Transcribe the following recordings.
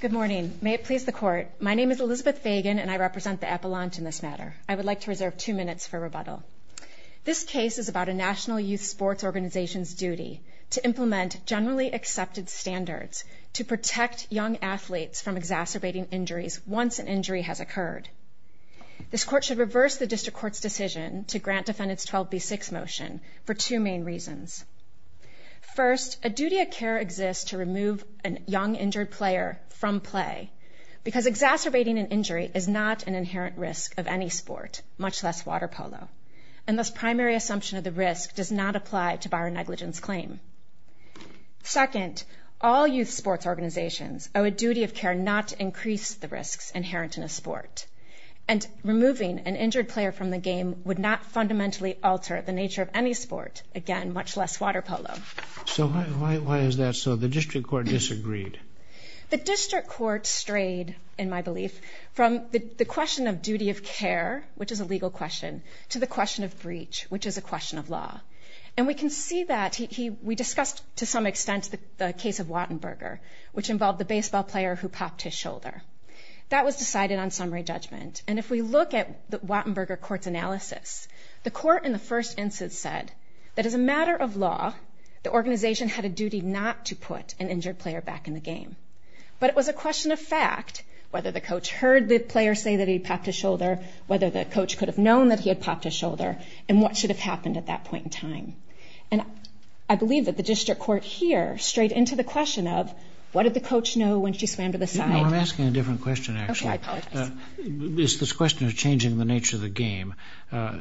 Good morning. May it please the Court, my name is Elizabeth Fagan and I represent the Appalachian in this matter. I would like to reserve two minutes for rebuttal. This case is about a national youth sports organization's duty to implement generally accepted standards to protect young athletes from exacerbating injuries once an injury has occurred. This Court should reverse the District Court's decision to grant defendants 12b6 motion for two main reasons. First, a duty of care exists to remove a young injured player from play because exacerbating an injury is not an inherent risk of any sport, much less water polo, and thus primary assumption of the risk does not apply to bar a negligence claim. Second, all youth sports organizations owe a duty of care not to increase the risks inherent in a sport, and removing an injured player from the game would not fundamentally alter the nature of any sport, again, much less water polo. So why is that so? The District Court disagreed. The District Court strayed, in my belief, from the question of duty of care, which is a legal question, to the question of breach, which is a question of law. And we can see that. We discussed, to some extent, the case of Wattenberger, which involved the baseball player who popped his shoulder. That was decided on summary judgment. And if we look at the first instance said, that as a matter of law, the organization had a duty not to put an injured player back in the game. But it was a question of fact, whether the coach heard the player say that he popped his shoulder, whether the coach could have known that he had popped his shoulder, and what should have happened at that point in time. And I believe that the District Court here strayed into the question of, what did the coach know when she swam to the side? No, I'm asking a different question, actually. Okay, I apologize. It's this question of changing the nature of the game.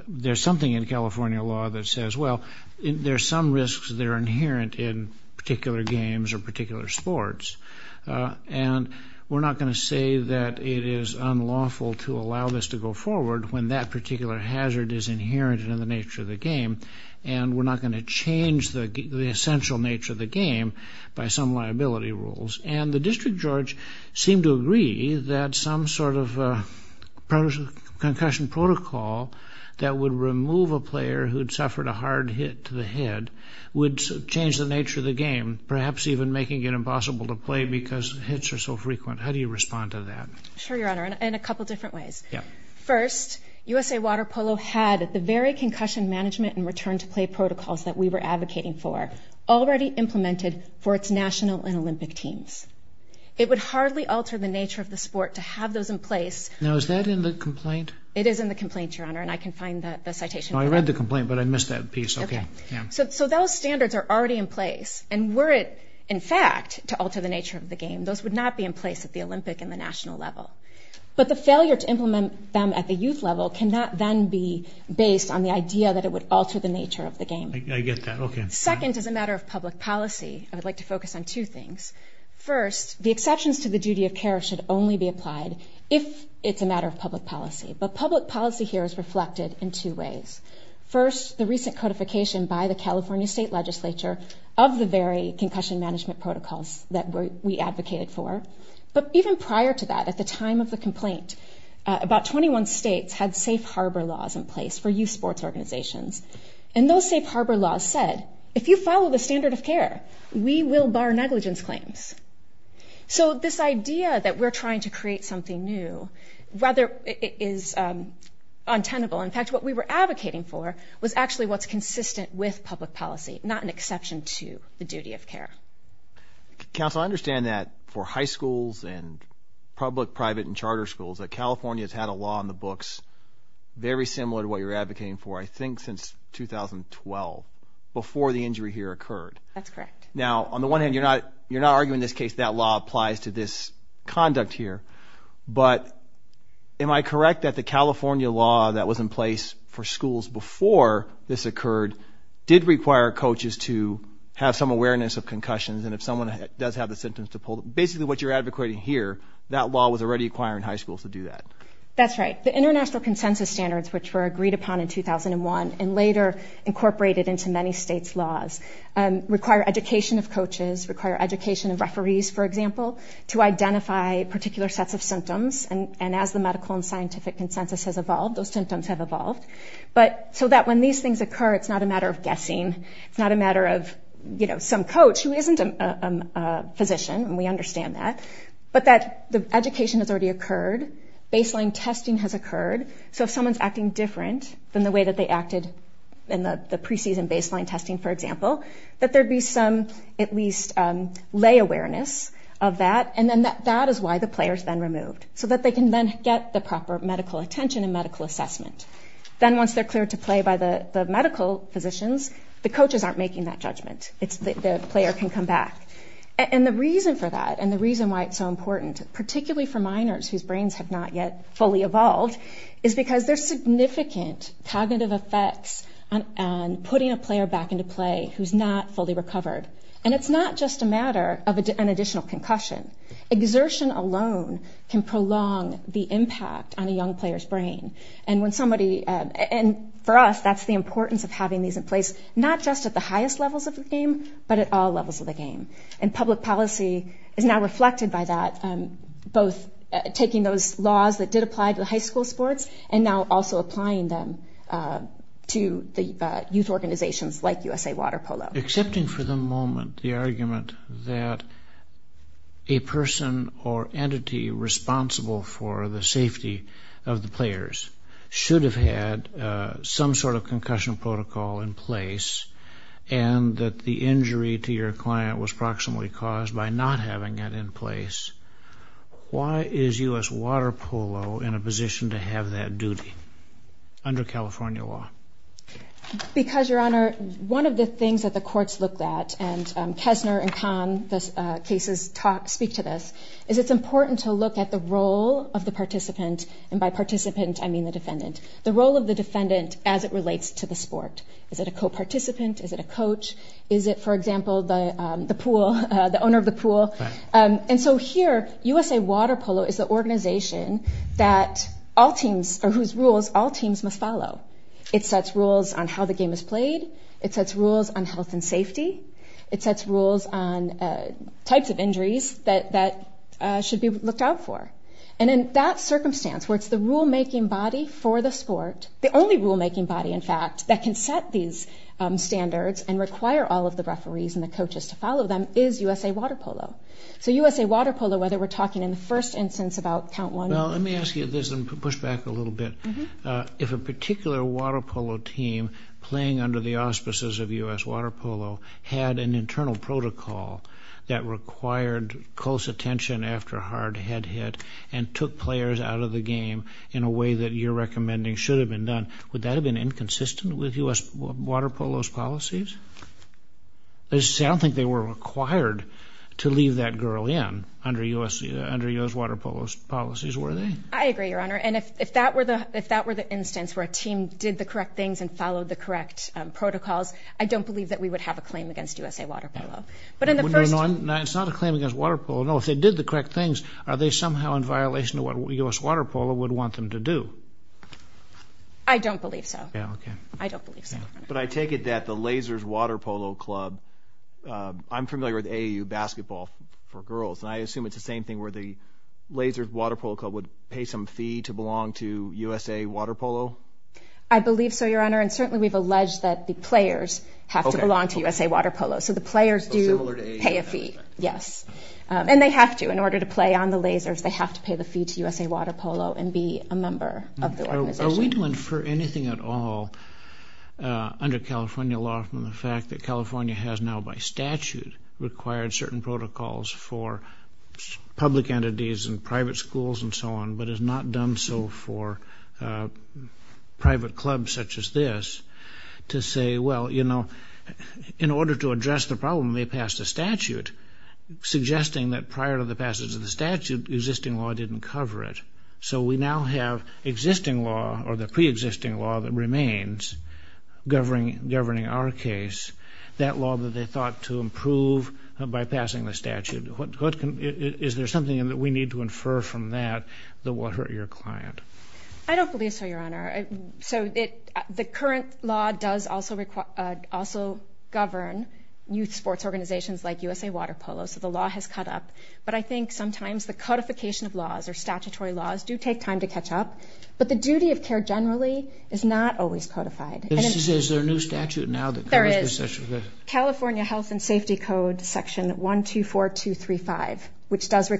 There's something in California law that says, well, there's some risks that are inherent in particular games or particular sports. And we're not going to say that it is unlawful to allow this to go forward when that particular hazard is inherent in the nature of the game. And we're not going to change the essential nature of the game by some liability rules. And the district judge seemed to agree that some sort of concussion protocol that would remove a player who'd suffered a hard hit to the head would change the nature of the game, perhaps even making it impossible to play because hits are so frequent. How do you respond to that? Sure, Your Honor, in a couple different ways. First, USA Water Polo had the very concussion management and return to play protocols that we were advocating for already implemented for its national and Olympic teams. It would hardly alter the nature of the sport to have those in place. Now, is that in the complaint? It is in the complaint, Your Honor, and I can find the citation. No, I read the complaint, but I missed that piece. Okay. So those standards are already in place. And were it, in fact, to alter the nature of the game, those would not be in place at the Olympic and the national level. But the failure to implement them at the youth level cannot then be based on the idea that it would alter the nature of the game. I get that. Okay. Second, as a matter of public policy, I would like to focus on two things. First, the exceptions to the duty of care should only be applied if it's a matter of public policy. But public policy here is reflected in two ways. First, the recent codification by the California State Legislature of the very concussion management protocols that we advocated for. But even prior to that, at the time of the complaint, about 21 states had safe harbor laws in place for youth sports organizations. And those safe harbor laws said, if you follow the standard of care, we will bar negligence claims. So this idea that we're trying to create something new rather is untenable. In fact, what we were advocating for was actually what's consistent with public policy, not an exception to the duty of care. Counsel, I understand that for high schools and public, private, and charter schools, that California has had a law in the books very similar to what you're advocating for, I think, since 2012, before the injury here occurred. That's correct. Now, on the one hand, you're not arguing in this case that law applies to this conduct here. But am I correct that the California law that was in place for schools before this occurred did require coaches to have some awareness of concussions? And if someone does have the symptoms to pull them, basically what you're advocating here, that law was already requiring high schools to do that. That's right. The international consensus standards, which were agreed upon in 2001 and later incorporated into many states' laws, require education of coaches, require education of referees, for example, to identify particular sets of symptoms. And as the medical and scientific consensus has evolved, those symptoms have evolved. But so that when these things occur, it's not a matter of guessing. It's not a matter of, you know, some coach who isn't a physician, and we understand that. But that the education has already occurred. Baseline testing has occurred. So if someone's acting different than the way that they acted in the preseason baseline testing, for example, that there'd be some, at least, lay awareness of that. And then that is why the player is then removed, so that they can then get the proper medical attention and medical assessment. Then once they're cleared to play by the medical physicians, the coaches aren't making that judgment. The player can come back. And the reason for that, and the reason why it's so important, particularly for minors whose brains have not yet fully evolved, is because there's significant cognitive effects on putting a player back into play who's not fully recovered. And it's not just a matter of an additional concussion. Exertion alone can prolong the impact on a young player's brain. And for us, that's the importance of having these in place, not just at the highest levels of the game, but at all levels of the game. And public policy is now reflected by that, both taking those laws that did apply to the high school sports, and now also applying them to the youth organizations like USA Water Polo. Excepting for the moment the argument that a person or entity responsible for the safety of the players should have had some sort of concussion protocol in place, and that the injury to your client was proximately caused by not having it in place, why is U.S. Water Polo in a position to have that duty under California law? Because, Your Honor, one of the things that the courts look at, and Kessner and Kahn, the cases speak to this, is it's important to look at the role of the participant, and by participant I mean the defendant, the role of the defendant as it relates to the sport. Is it a co-participant? Is it a coach? Is it, for example, the pool, the owner of the pool? And so here, USA Water Polo is the organization that all teams, or whose rules all teams must follow. It sets rules on how the game is played. It sets rules on health and safety. It sets rules on types of injuries that should be looked out for. And in that circumstance, where it's the rule-making body for the sport, the only rule-making body, in fact, that can set these standards and require all of the referees and the coaches to follow them, is USA Water Polo. So USA Water Polo, whether we're talking in the first instance about count one... Well, let me ask you this and push back a little bit. If a particular water polo team playing under the auspices of U.S. Water Polo had an internal protocol that required close attention after a hard head hit and took players out of the game in a way that you're recommending should have been done, would that have been inconsistent with U.S. Water Polo's policies? I don't think they were required to leave that girl in under U.S. Water Polo's policies, were they? I agree, Your Honor. And if that were the instance where a team did the correct things and followed the correct protocols, I don't believe that we would have a claim against USA Water Polo. But it's not a claim against water polo. No, if they did the correct things, are they somehow in violation of what U.S. Water Polo would want them to do? I don't believe so. I don't believe so. But I take it that the Lazers Water Polo Club, I'm familiar with AAU basketball for girls, and I assume it's the same thing where the Lazers Water Polo Club would pay some fee to belong to USA Water Polo? I believe so, Your Honor, and certainly we've alleged that the players have to belong to USA Water Polo, so the players do pay a fee, yes. And they have to, in order to play on the Lazers, they have to pay the fee to USA Water Polo and be a member of the organization. Are we to infer anything at all under California law from the fact that California has now by statute required certain protocols for public entities and private schools and so on, but has not done so for private clubs such as this, to say, well, you know, in order to address the problem, they passed a statute suggesting that prior to the passage of the statute, existing law didn't cover it. So we now have existing law or the preexisting law that remains governing our case, that law that they thought to improve by passing the statute. Is there something that we need to infer from that that will hurt your client? I don't believe so, Your Honor. So the current law does also govern youth sports organizations like USA Water Polo, so the law has caught up. But I think sometimes the codification of laws or statutory laws do take time to catch up, but the duty of care generally is not always codified. Is there a new statute now that covers this? California Health and Safety Code Section 124235, which does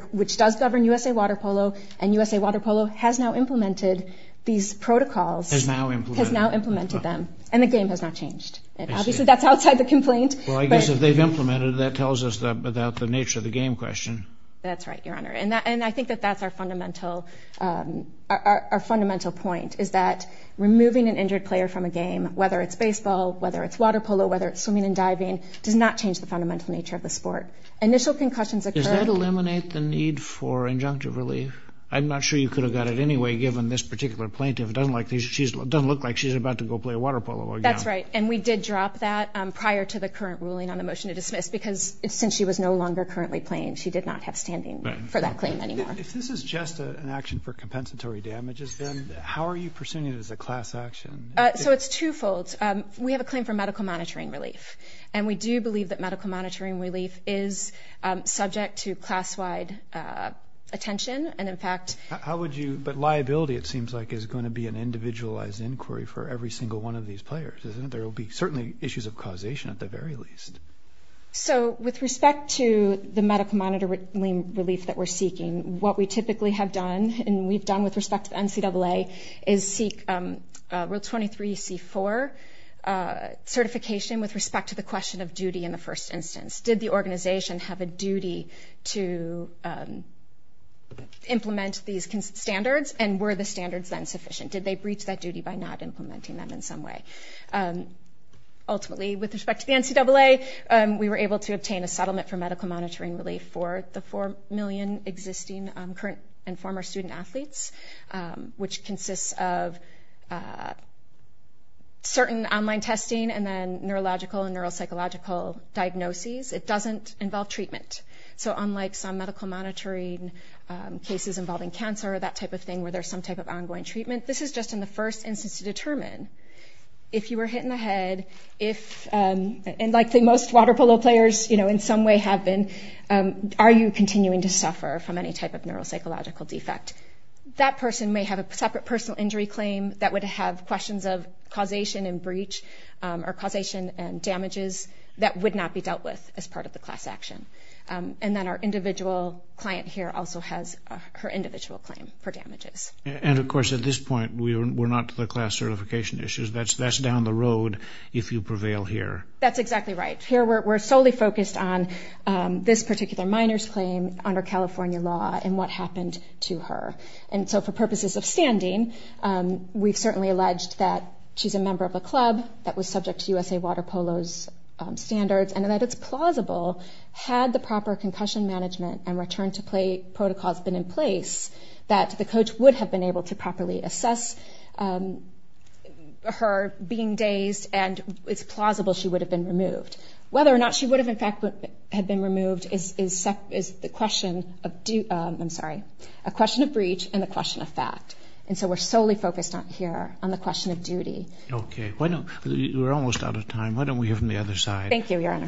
govern USA Water Polo, and USA Water Polo has now implemented these protocols, has now implemented them, and the game has not changed. Obviously, that's outside the complaint. Well, I guess if they've implemented it, that tells us about the nature of the game question. That's right, Your Honor. And I think that that's our fundamental point, is that removing an injured player from a game, whether it's baseball, whether it's water polo, whether it's swimming and diving, does not change the fundamental nature of the sport. Initial concussions occur... Does that eliminate the need for injunctive relief? I'm not sure you could have got it anyway, given this particular plaintiff. It doesn't look like she's about to go play water polo again. That's right. And we did drop that prior to the current ruling on the motion to dismiss, because since she was no longer currently playing, she did not have standing for that claim anymore. If this is just an action for compensatory damages, then how are you pursuing it as a class action? So it's twofold. We have a claim for medical monitoring relief. And we do believe that medical monitoring relief is subject to class-wide attention. And in fact... But liability, it seems like, is going to be an individualized inquiry for every single one of these players, isn't it? There will be certainly issues of causation, at the very least. So with respect to the medical monitoring relief that we're seeking, what we typically have done, and we've done with respect to the NCAA, is seek Rule 23C4 certification with respect to the question of duty in the first instance. Did the organization have a duty to implement these standards? And were the standards then sufficient? Did they breach that duty by not implementing them in some way? Ultimately, with respect to the NCAA, we were able to obtain a settlement for medical monitoring relief for the four million existing current and former student-athletes, which consists of certain online testing and then neurological and neuropsychological diagnoses. It doesn't involve treatment. So unlike some medical monitoring cases involving cancer, that type of thing, where there's some type of ongoing treatment, this is just in the first instance to determine if you were hit in the head, if... Unlike the most water polo players, in some way have been, are you continuing to suffer from any type of neuropsychological defect? That person may have a separate personal injury claim that would have questions of causation and breach or causation and damages that would not be dealt with as part of the class action. And then our individual client here also has her individual claim for damages. And of course, at this point, we're not to the class certification issues. That's down the road if you prevail here. That's exactly right. Here, we're solely focused on this particular minor's claim under California law and what happened to her. And so for purposes of standing, we've certainly alleged that she's a member of a club that was subject to USA Water Polo's standards and that it's plausible had the proper concussion management and return to play protocols been in place that the coach would have been able to properly assess her being dazed and it's plausible she would have been removed. Whether or not she would have, in fact, had been removed is the question of, I'm sorry, a question of breach and a question of fact. And so we're solely focused on here, on the question of duty. Okay. We're almost out of time. Why don't we hear from the other side? Thank you, Your Honor.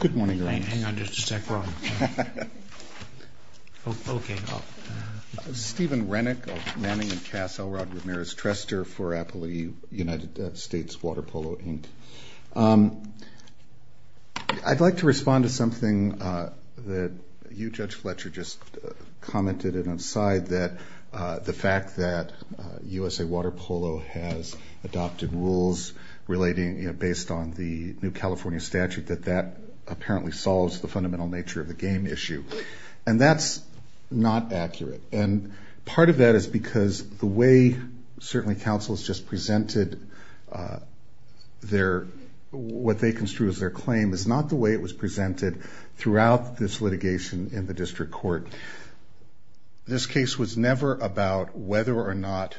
Good morning, Your Honor. Hang on just a sec, Ron. Okay. Steven Rennick of Manning & Cassel, Rod Ramirez-Trester for Appalooie United States Water Polo, Inc. I'd like to respond to something that you, Judge Fletcher, just commented and I'm sorry that the fact that USA Water Polo has adopted rules relating, you know, based on the new California statute, that that apparently solves the fundamental nature of the game issue. And that's not accurate. And part of that is because the way certainly counsels just presented their, what they construed as their claim, is not the way it was presented throughout this litigation in the district court. This case was never about whether or not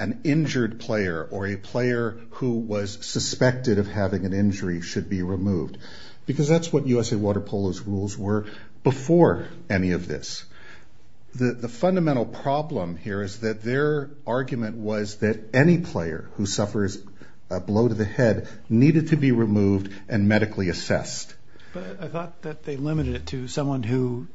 an injured player or a player who was suspected of having an injury should be removed. Because that's what USA Water Polo's rules were before any of this. The fundamental problem here is that their argument was that any player who suffers a blow to the head needed to be removed and medically assessed. But I thought that they limited it to someone who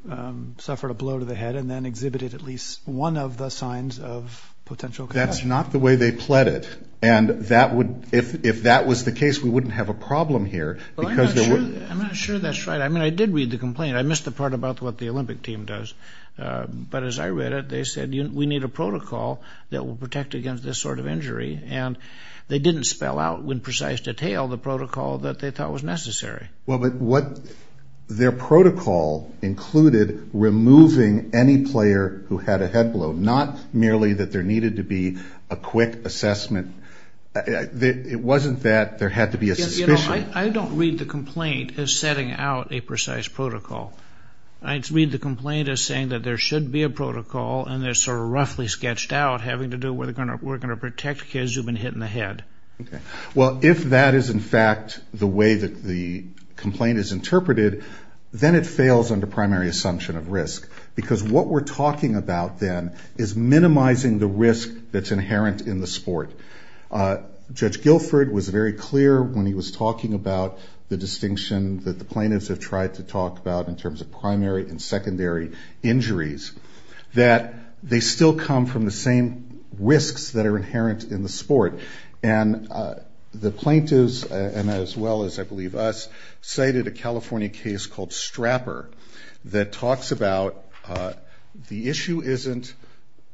suffered a blow to the head and then exhibited at least one of the signs of potential concussion. That's not the way they pled it. And that would, if that was the case, we wouldn't have a problem here because there would... Well, I'm not sure that's right. I mean, I did read the complaint. I missed the part about what the Olympic team does. But as I read it, they said, we need a protocol that will protect against this sort of injury. And they didn't spell out in precise detail the protocol that they thought was necessary. Well, but what their protocol included removing any player who had a head blow, not merely that there needed to be a quick assessment. It wasn't that there had to be a suspicion. I don't read the complaint as setting out a precise protocol. I read the complaint as saying that there should be a protocol and they're sort of roughly sketched out having to do with we're going to protect kids who've been hit in the head. Well, if that is in fact the way that the complaint is interpreted, then it fails under primary assumption of risk. Because what we're talking about then is minimizing the risk that's inherent in the sport. Judge Guilford was very clear when he was talking about the distinction that the plaintiffs have tried to talk about in terms of primary and secondary injuries, that they still come from the same risks that are inherent in the sport. And the plaintiffs, and as well as I believe us, cited a California case called Strapper that talks about the issue isn't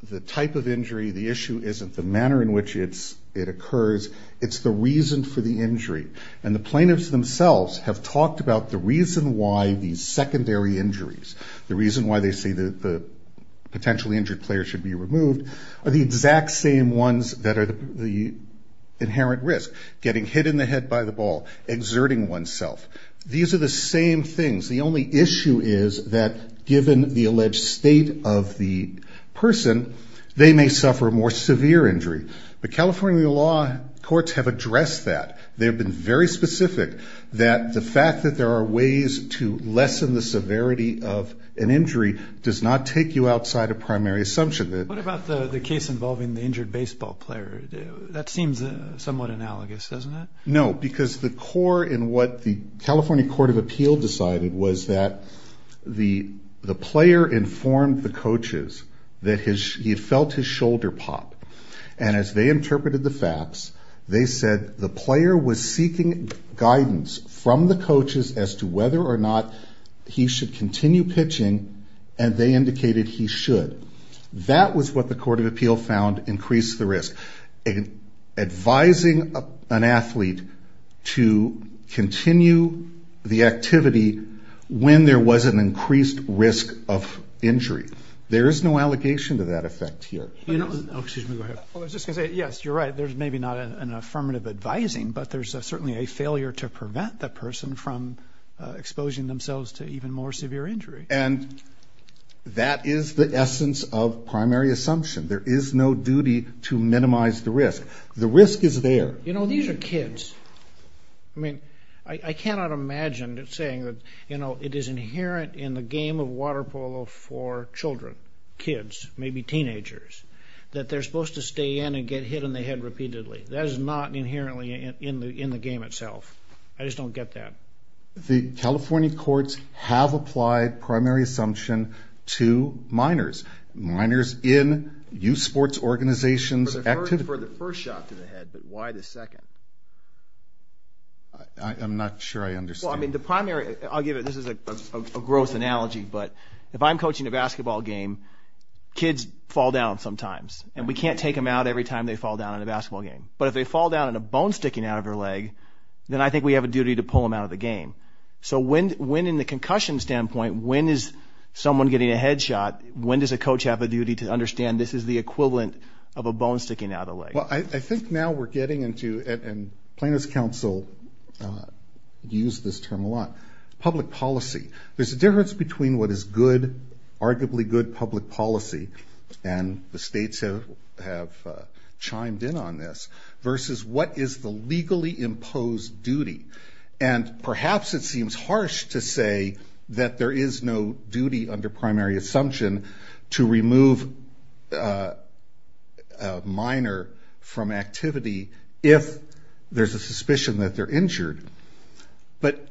the type of injury, the issue isn't the manner in which it occurs, it's the reason for the injury. And the plaintiffs themselves have talked about the reason why these secondary injuries, the reason why they say the potentially injured player should be removed, are the exact same ones that are the inherent risk, getting hit in the head by the ball, exerting oneself. These are the same things. The only issue is that given the alleged state of the person, they may suffer more severe injury. But California law courts have addressed that. They have been very specific that the fact that there are ways to lessen the severity of an injury does not take you outside of primary assumption. What about the case involving the injured baseball player? That seems somewhat analogous, doesn't it? No, because the core in what the California Court of Appeal decided was that the player informed the coaches that he felt his shoulder pop. And as they interpreted the facts, they said the player was seeking guidance from the coaches as to whether or not he should continue pitching, and they indicated he should. That was what the Court of Appeal found increased the risk. Advising an athlete to continue the activity when there was an increased risk of injury, there is no allegation to that effect here. Excuse me, go ahead. I was just going to say, yes, you're right, there's maybe not an affirmative advising, but there's certainly a failure to prevent the person from exposing themselves to even more severe injury. And that is the essence of primary assumption. There is no duty to minimize the risk. The risk is there. You know, these are kids. I mean, I cannot imagine saying that, you know, it is inherent in the game of water polo for children, kids, maybe teenagers, that they're supposed to stay in and get hit in the head repeatedly. That is not inherently in the game itself. I just don't get that. The California courts have applied primary assumption to minors, minors in youth sports organizations. For the first shot to the head, but why the second? I'm not sure I understand. Well, I mean, the primary, I'll give it, this is a gross analogy, but if I'm coaching a basketball game, kids fall down sometimes, and we can't take them out every time they fall down in a basketball game. But if they fall down and a bone's sticking out of their leg, that's not in the game. So when, in the concussion standpoint, when is someone getting a head shot, when does a coach have a duty to understand this is the equivalent of a bone sticking out of the leg? Well, I think now we're getting into, and plaintiff's counsel use this term a lot, public policy. There's a difference between what is good, arguably good public policy, and the states have chimed in on this, versus what is the legally imposed duty, and perhaps it seems harsh to say that there is no duty under primary assumption to remove a minor from activity if there's a suspicion that they're injured. But,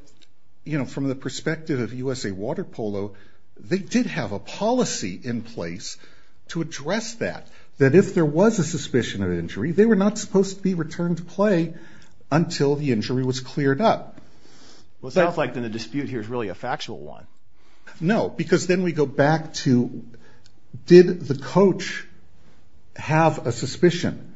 you know, from the perspective of USA Water Polo, they did have a policy in place to address that, that if there was a suspicion of injury, they were not supposed to be returned to play until the injury was removed. Well, it sounds like the dispute here is really a factual one. No, because then we go back to, did the coach have a suspicion?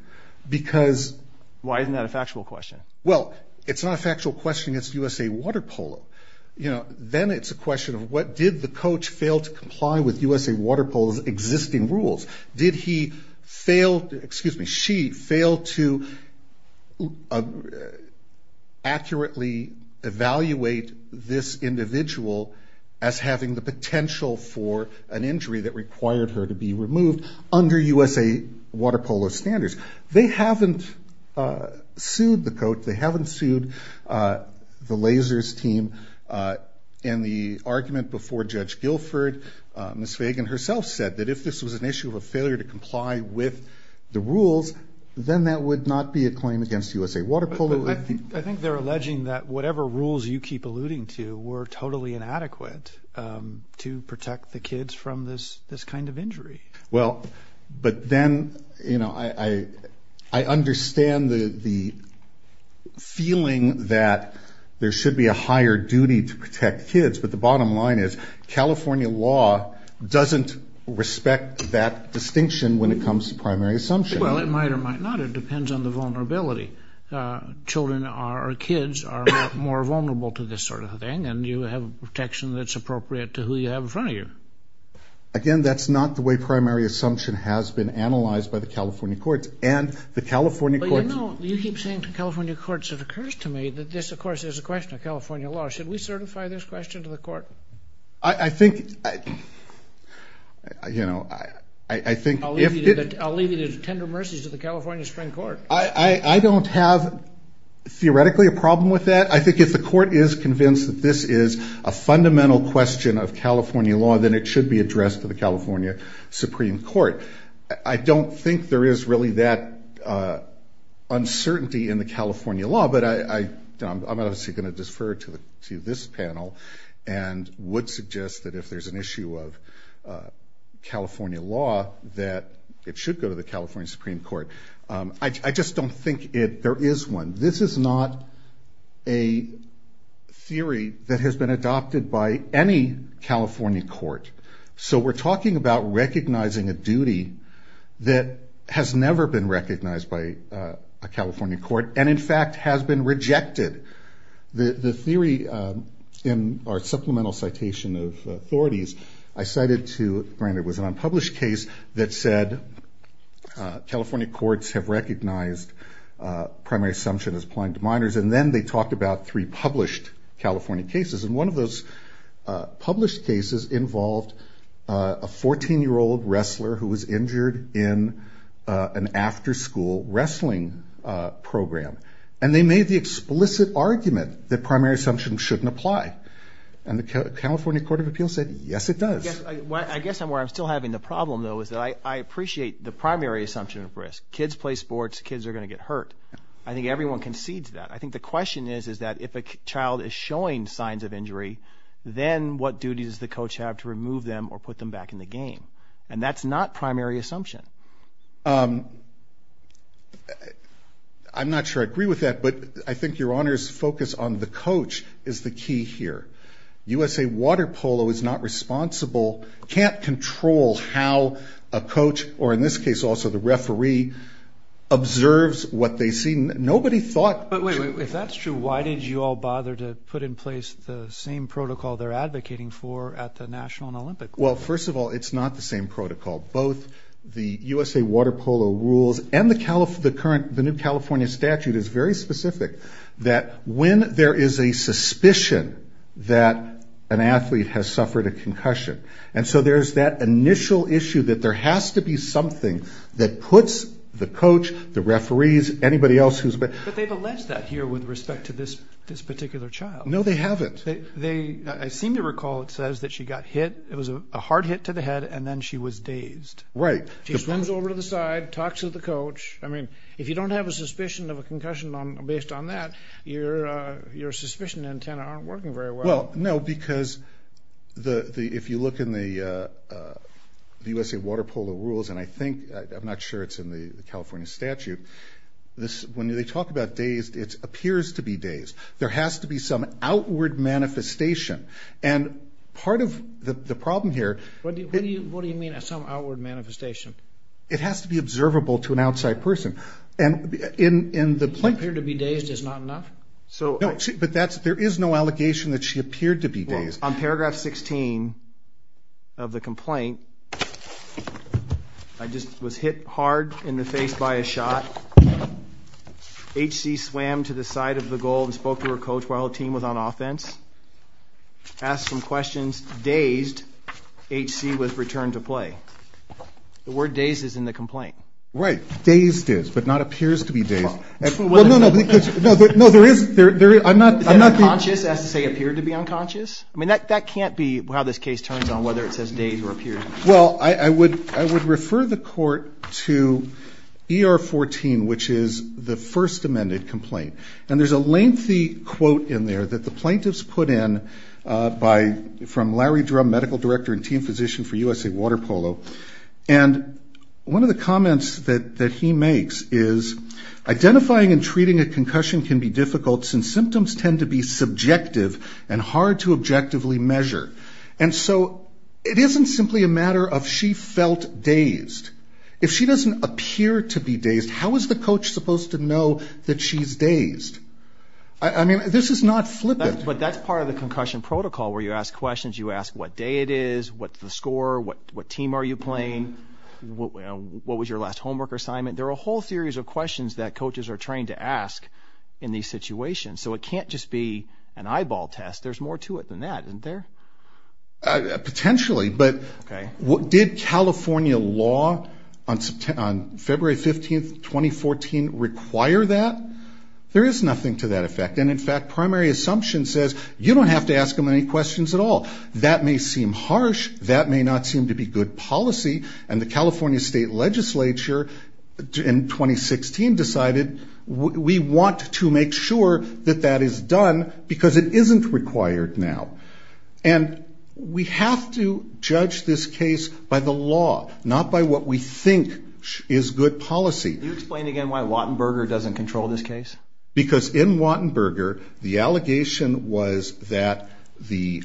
Because... Why isn't that a factual question? Well, it's not a factual question against USA Water Polo. You know, then it's a question of what did the coach fail to comply with USA Water Polo's existing rules? Did he fail to, excuse me, she failed to accurately evaluate this individual as having the potential for an injury that required her to be removed under USA Water Polo's standards? They haven't sued the coach, they haven't sued the lasers team, and the argument before Judge Guilford, Ms. Fagan herself said that if this was an issue of a failure to comply with the rules, then that would not be a claim against USA Water Polo. I think they're alleging that whatever rules you keep alluding to were totally inadequate to protect the kids from this kind of injury. Well, but then, you know, I understand the feeling that there should be a higher duty to protect kids, but the bottom line is California law doesn't respect that distinction when it comes to primary assumption. Well, it might or might not. It depends on the vulnerability. Children or kids are more vulnerable to this sort of thing, and you have protection that's appropriate to who you have in front of you. Again, that's not the way primary assumption has been analyzed by the California courts, and the California courts... But you know, you keep saying to California courts, it occurs to me that this, of course, is a question of California law. Should we certify this question to the court? I think, you know, I think... I'll leave it at tender mercies to the California Supreme Court. I don't have, theoretically, a problem with that. I think if the court is convinced that this is a fundamental question of California law, then it should be addressed to the California Supreme Court. I don't think there is really that uncertainty in the California law, but I'm obviously going to defer to this panel and would suggest that if there's an issue of California law, that it should go to the California Supreme Court. I just don't think there is one. This is not a theory that has been adopted by any California court. So we're talking about recognizing a duty that has never been recognized by a California court and, in fact, has been rejected. The theory in our supplemental citation of authorities, I cited to... It was an unpublished case that said California courts have recognized primary assumption as applying to minors, and then they talked about three published California cases, and one of those published cases involved a 14-year-old wrestler who was injured in an after-school wrestling program, and they made the explicit argument that primary assumption shouldn't apply, and the California Court of Appeals said, yes, it does. I guess where I'm still having the problem, though, is that I appreciate the primary assumption of risk. Kids play sports. Kids are going to get hurt. I think everyone concedes that. I think the question is that if a child is showing signs of injury, then what duties does the coach have to remove them or put them back in the game? And that's not primary assumption. I'm not sure I agree with that, but I think your Honor's focus on the coach is the key here. USA Water Polo is not responsible, can't control how a coach, or in this case also the referee, observes what they see. Nobody thought... But wait, if that's true, why did you all bother to put in place the same protocol they're advocating for at the National and Olympic Court? Well, first of all, it's not the same protocol. Both the USA Water Polo rules and the new California statute is very specific that when there is a suspicion that an athlete has suffered a concussion, and so there's that initial issue that there has to be something that puts the coach, the referees, anybody else who's been... But they've alleged that here with respect to this particular child. No, they haven't. I seem to recall it says that she got hit, it was a hard hit to the head, and then she was dazed. Right. She swims over to the side, talks with the coach. I mean, if you don't have a suspicion of a concussion based on that, your suspicion antenna aren't working very well. Well, no, because if you look in the USA Water Polo rules, and I think, I'm not sure it's in the California statute, when they talk about dazed, it appears to be dazed. There has to be some outward manifestation, and part of the problem here... What do you mean, some outward manifestation? It has to be observable to an outside person, and in the... She appeared to be dazed is not enough? No, but there is no allegation that she appeared to be dazed. On paragraph 16 of the complaint, I just was hit hard in the face by a shot. HC swam to the side of the goal and spoke to her coach while her team was on offense, asked some questions, dazed. HC was returned to play. The word dazed is in the complaint. Right. Dazed is, but not appears to be dazed. Well, no, no, because... No, there is... I'm not... Is it unconscious as to say appeared to be unconscious? I mean, that can't be how this Well, I would refer the court to ER 14, which is the first amended complaint, and there is a lengthy quote in there that the plaintiffs put in by... From Larry Drum, medical director and team physician for USA Water Polo, and one of the comments that he makes is, identifying and treating a concussion can be difficult since symptoms tend to be subjective and hard to objectively measure, and so it isn't simply a matter of she felt dazed. If she doesn't appear to be dazed, how is the coach supposed to know that she's dazed? I mean, this is not flippant. But that's part of the concussion protocol, where you ask questions. You ask what day it is, what's the score, what team are you playing, what was your last homework assignment. There are a whole series of questions that coaches are trained to ask in these situations, so it can't just be an eyeball test. There's more to it than that, isn't there? Potentially, but did California law on February 15, 2014 require that? There is nothing to that effect, and in fact, primary assumption says you don't have to ask them any questions at all. That may seem harsh, that may not seem to be good policy, and the California State Legislature in 2016 decided we want to make sure that that is done because it isn't required now. And we have to judge this case by the law, not by what we think is good policy. Can you explain again why Wattenberger doesn't control this case? Because in Wattenberger, the allegation was that the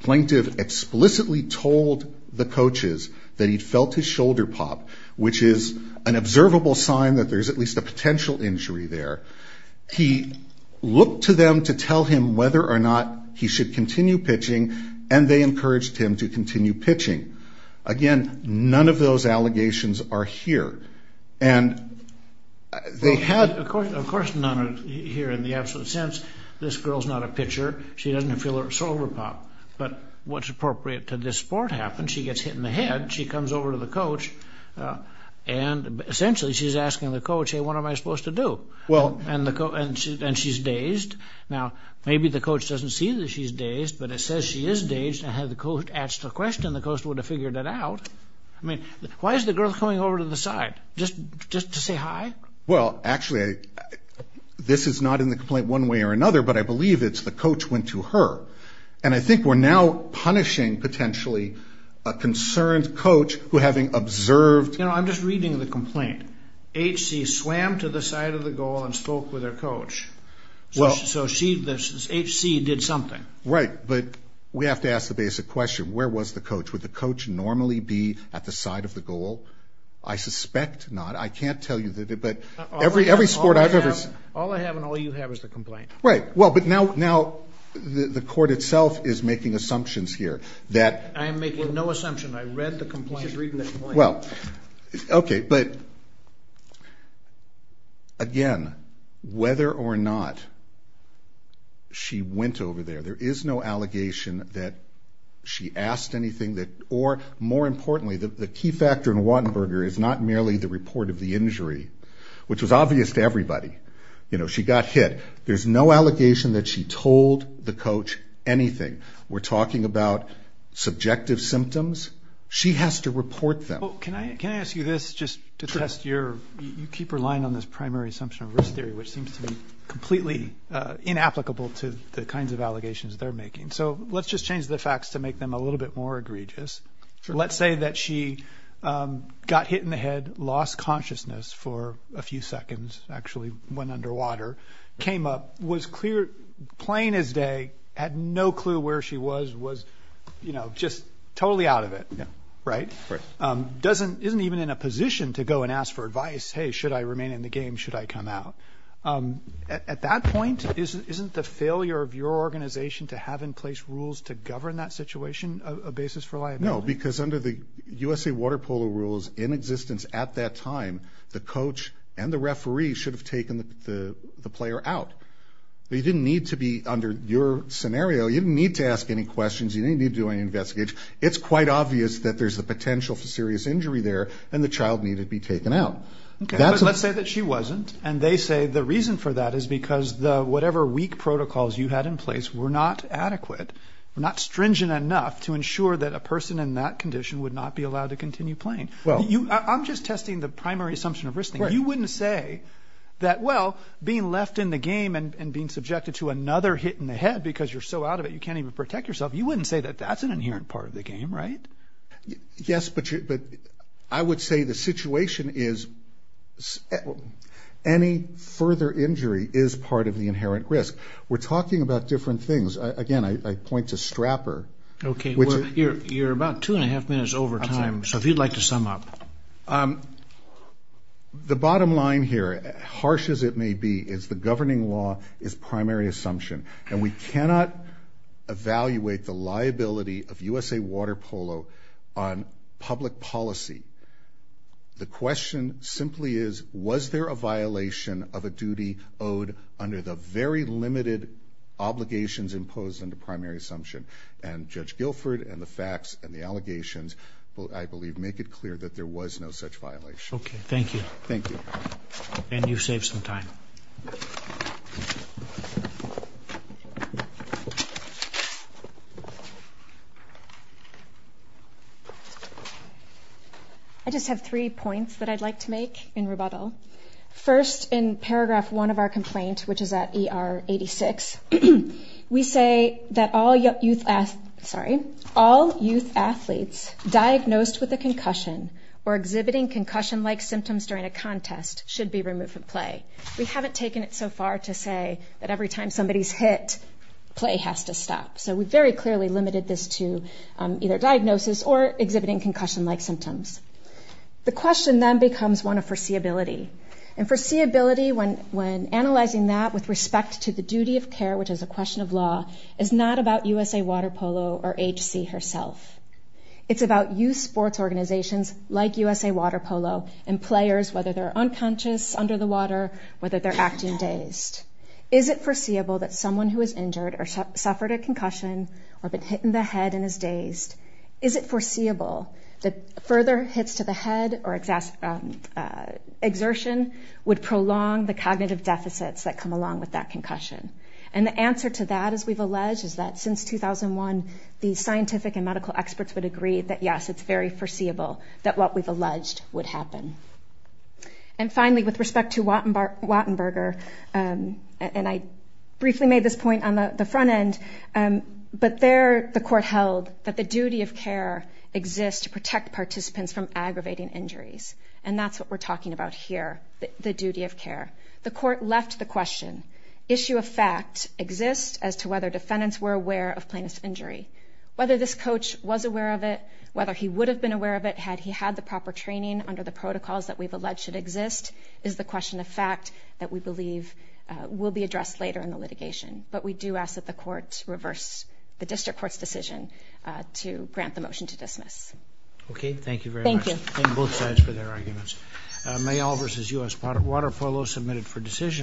plaintiff explicitly told the coaches that he felt his shoulder pop, which is an observable sign that there's at least a potential injury there. He looked to them to tell him whether or not he should continue pitching, and they encouraged him to continue pitching. Again, none of those allegations are here. They had, of course, none here in the absolute sense, this girl's not a pitcher, she doesn't feel her shoulder pop, but what's appropriate to this sport happens, she gets hit in the head, she comes over to the coach, and essentially she's asking the coach, hey, what am I supposed to do? And she's dazed. Now, maybe the coach doesn't see that she's dazed, but it says she is dazed, and had the coach asked the question, the coach would have figured that out. I mean, why is the girl coming over to the side? Just to say hi? Well, actually, this is not in the complaint one way or another, but I believe it's the other. And I think we're now punishing, potentially, a concerned coach who, having observed... You know, I'm just reading the complaint. HC swam to the side of the goal and spoke with her coach. So she, HC, did something. Right, but we have to ask the basic question. Where was the coach? Would the coach normally be at the side of the goal? I suspect not. I can't tell you, but every sport I've ever... All I have and all you have is the complaint. Right. Well, but now the court itself is making assumptions here that... I am making no assumption. I read the complaint. You should read the complaint. Well, okay, but again, whether or not she went over there, there is no allegation that she asked anything that... Or, more importantly, the key factor in Wattenberger is not merely the report of the injury, which was obvious to everybody. You know, she got hit. There's no allegation that she told the coach anything. We're talking about subjective symptoms. She has to report them. Well, can I ask you this, just to test your... You keep relying on this primary assumption of risk theory, which seems to be completely inapplicable to the kinds of allegations they're making. So let's just change the facts to make them a little bit more egregious. Let's say that she got hit in the head, lost consciousness for a few seconds, actually went underwater, came up, was clear, plain as day, had no clue where she was, was just totally out of it. Isn't even in a position to go and ask for advice. Hey, should I remain in the game? Should I come out? At that point, isn't the failure of your organization to have in place rules to govern that situation a basis for liability? No, because under the USA Water Polo rules in existence at that time, the coach and the referee should have taken the player out. They didn't need to be under your scenario. You didn't need to ask any questions. You didn't need to do any investigation. It's quite obvious that there's the potential for serious injury there, and the child needed to be taken out. Let's say that she wasn't, and they say the reason for that is because whatever weak protocols you had in place were not adequate, were not stringent enough to ensure that a person in that condition would not be allowed to continue playing. I'm just testing the primary assumption of risk. You wouldn't say that, well, being left in the game and being subjected to another hit in the head because you're so out of it, you can't even protect yourself. You wouldn't say that that's an inherent part of the game, right? Yes, but I would say the situation is any further injury is part of the inherent risk. We're talking about different things. Again, I point to strapper. Okay, well, you're about two and a half minutes over time, so if you'd like to sum up. The bottom line here, harsh as it may be, is the governing law is primary assumption, and we cannot evaluate the liability of USA Water Polo on public policy. The question simply is, was there a violation of a duty owed under the very limited obligations imposed under primary assumption? And Judge Guilford and the facts and the allegations, I believe, make it clear that there was no such violation. Okay, thank you. Thank you. And you've saved some time. I just have three points that I'd like to make in rebuttal. First, in paragraph one of our complaint, which is at ER 86, we say that all youth athletes diagnosed with a concussion or exhibiting concussion-like symptoms during a contest should be removed from play. We haven't taken it so far to say that every time somebody's hit, play has to stop. So we very clearly limited this to either diagnosis or exhibiting concussion-like symptoms. The question then becomes one of foreseeability. And foreseeability, when analyzing that with respect to the duty of care, which is a question of law, is not about USA Water Polo or H.C. herself. It's about youth sports organizations like USA Water Polo and players, whether they're unconscious under the water, whether they're acting dazed. Is it foreseeable that someone who is injured or suffered a concussion or been hit in the head and is dazed, is it foreseeable that further hits to the head or exertion would prolong the cognitive deficits that come along with that concussion? And the answer to that, as we've alleged, is that since 2001, the scientific and medical experts would agree that, yes, it's very foreseeable that what we've alleged would happen. And finally, with respect to Wattenberger, and I briefly made this point on the front end, but there the court held that the duty of care exists to protect participants from aggravating injuries. And that's what we're talking about here, the duty of care. The court left the question. Issue of fact exists as to whether defendants were aware of plaintiff's injury. Whether this coach was aware of it, whether he would have been aware of it had he had the proper training under the protocols that we've alleged exist is the question of fact that we believe will be addressed later in the litigation. But we do ask that the court reverse the district court's decision to grant the motion to dismiss. Okay, thank you very much. Thank you both sides for their arguments. May all versus us part of water polo submitted for decision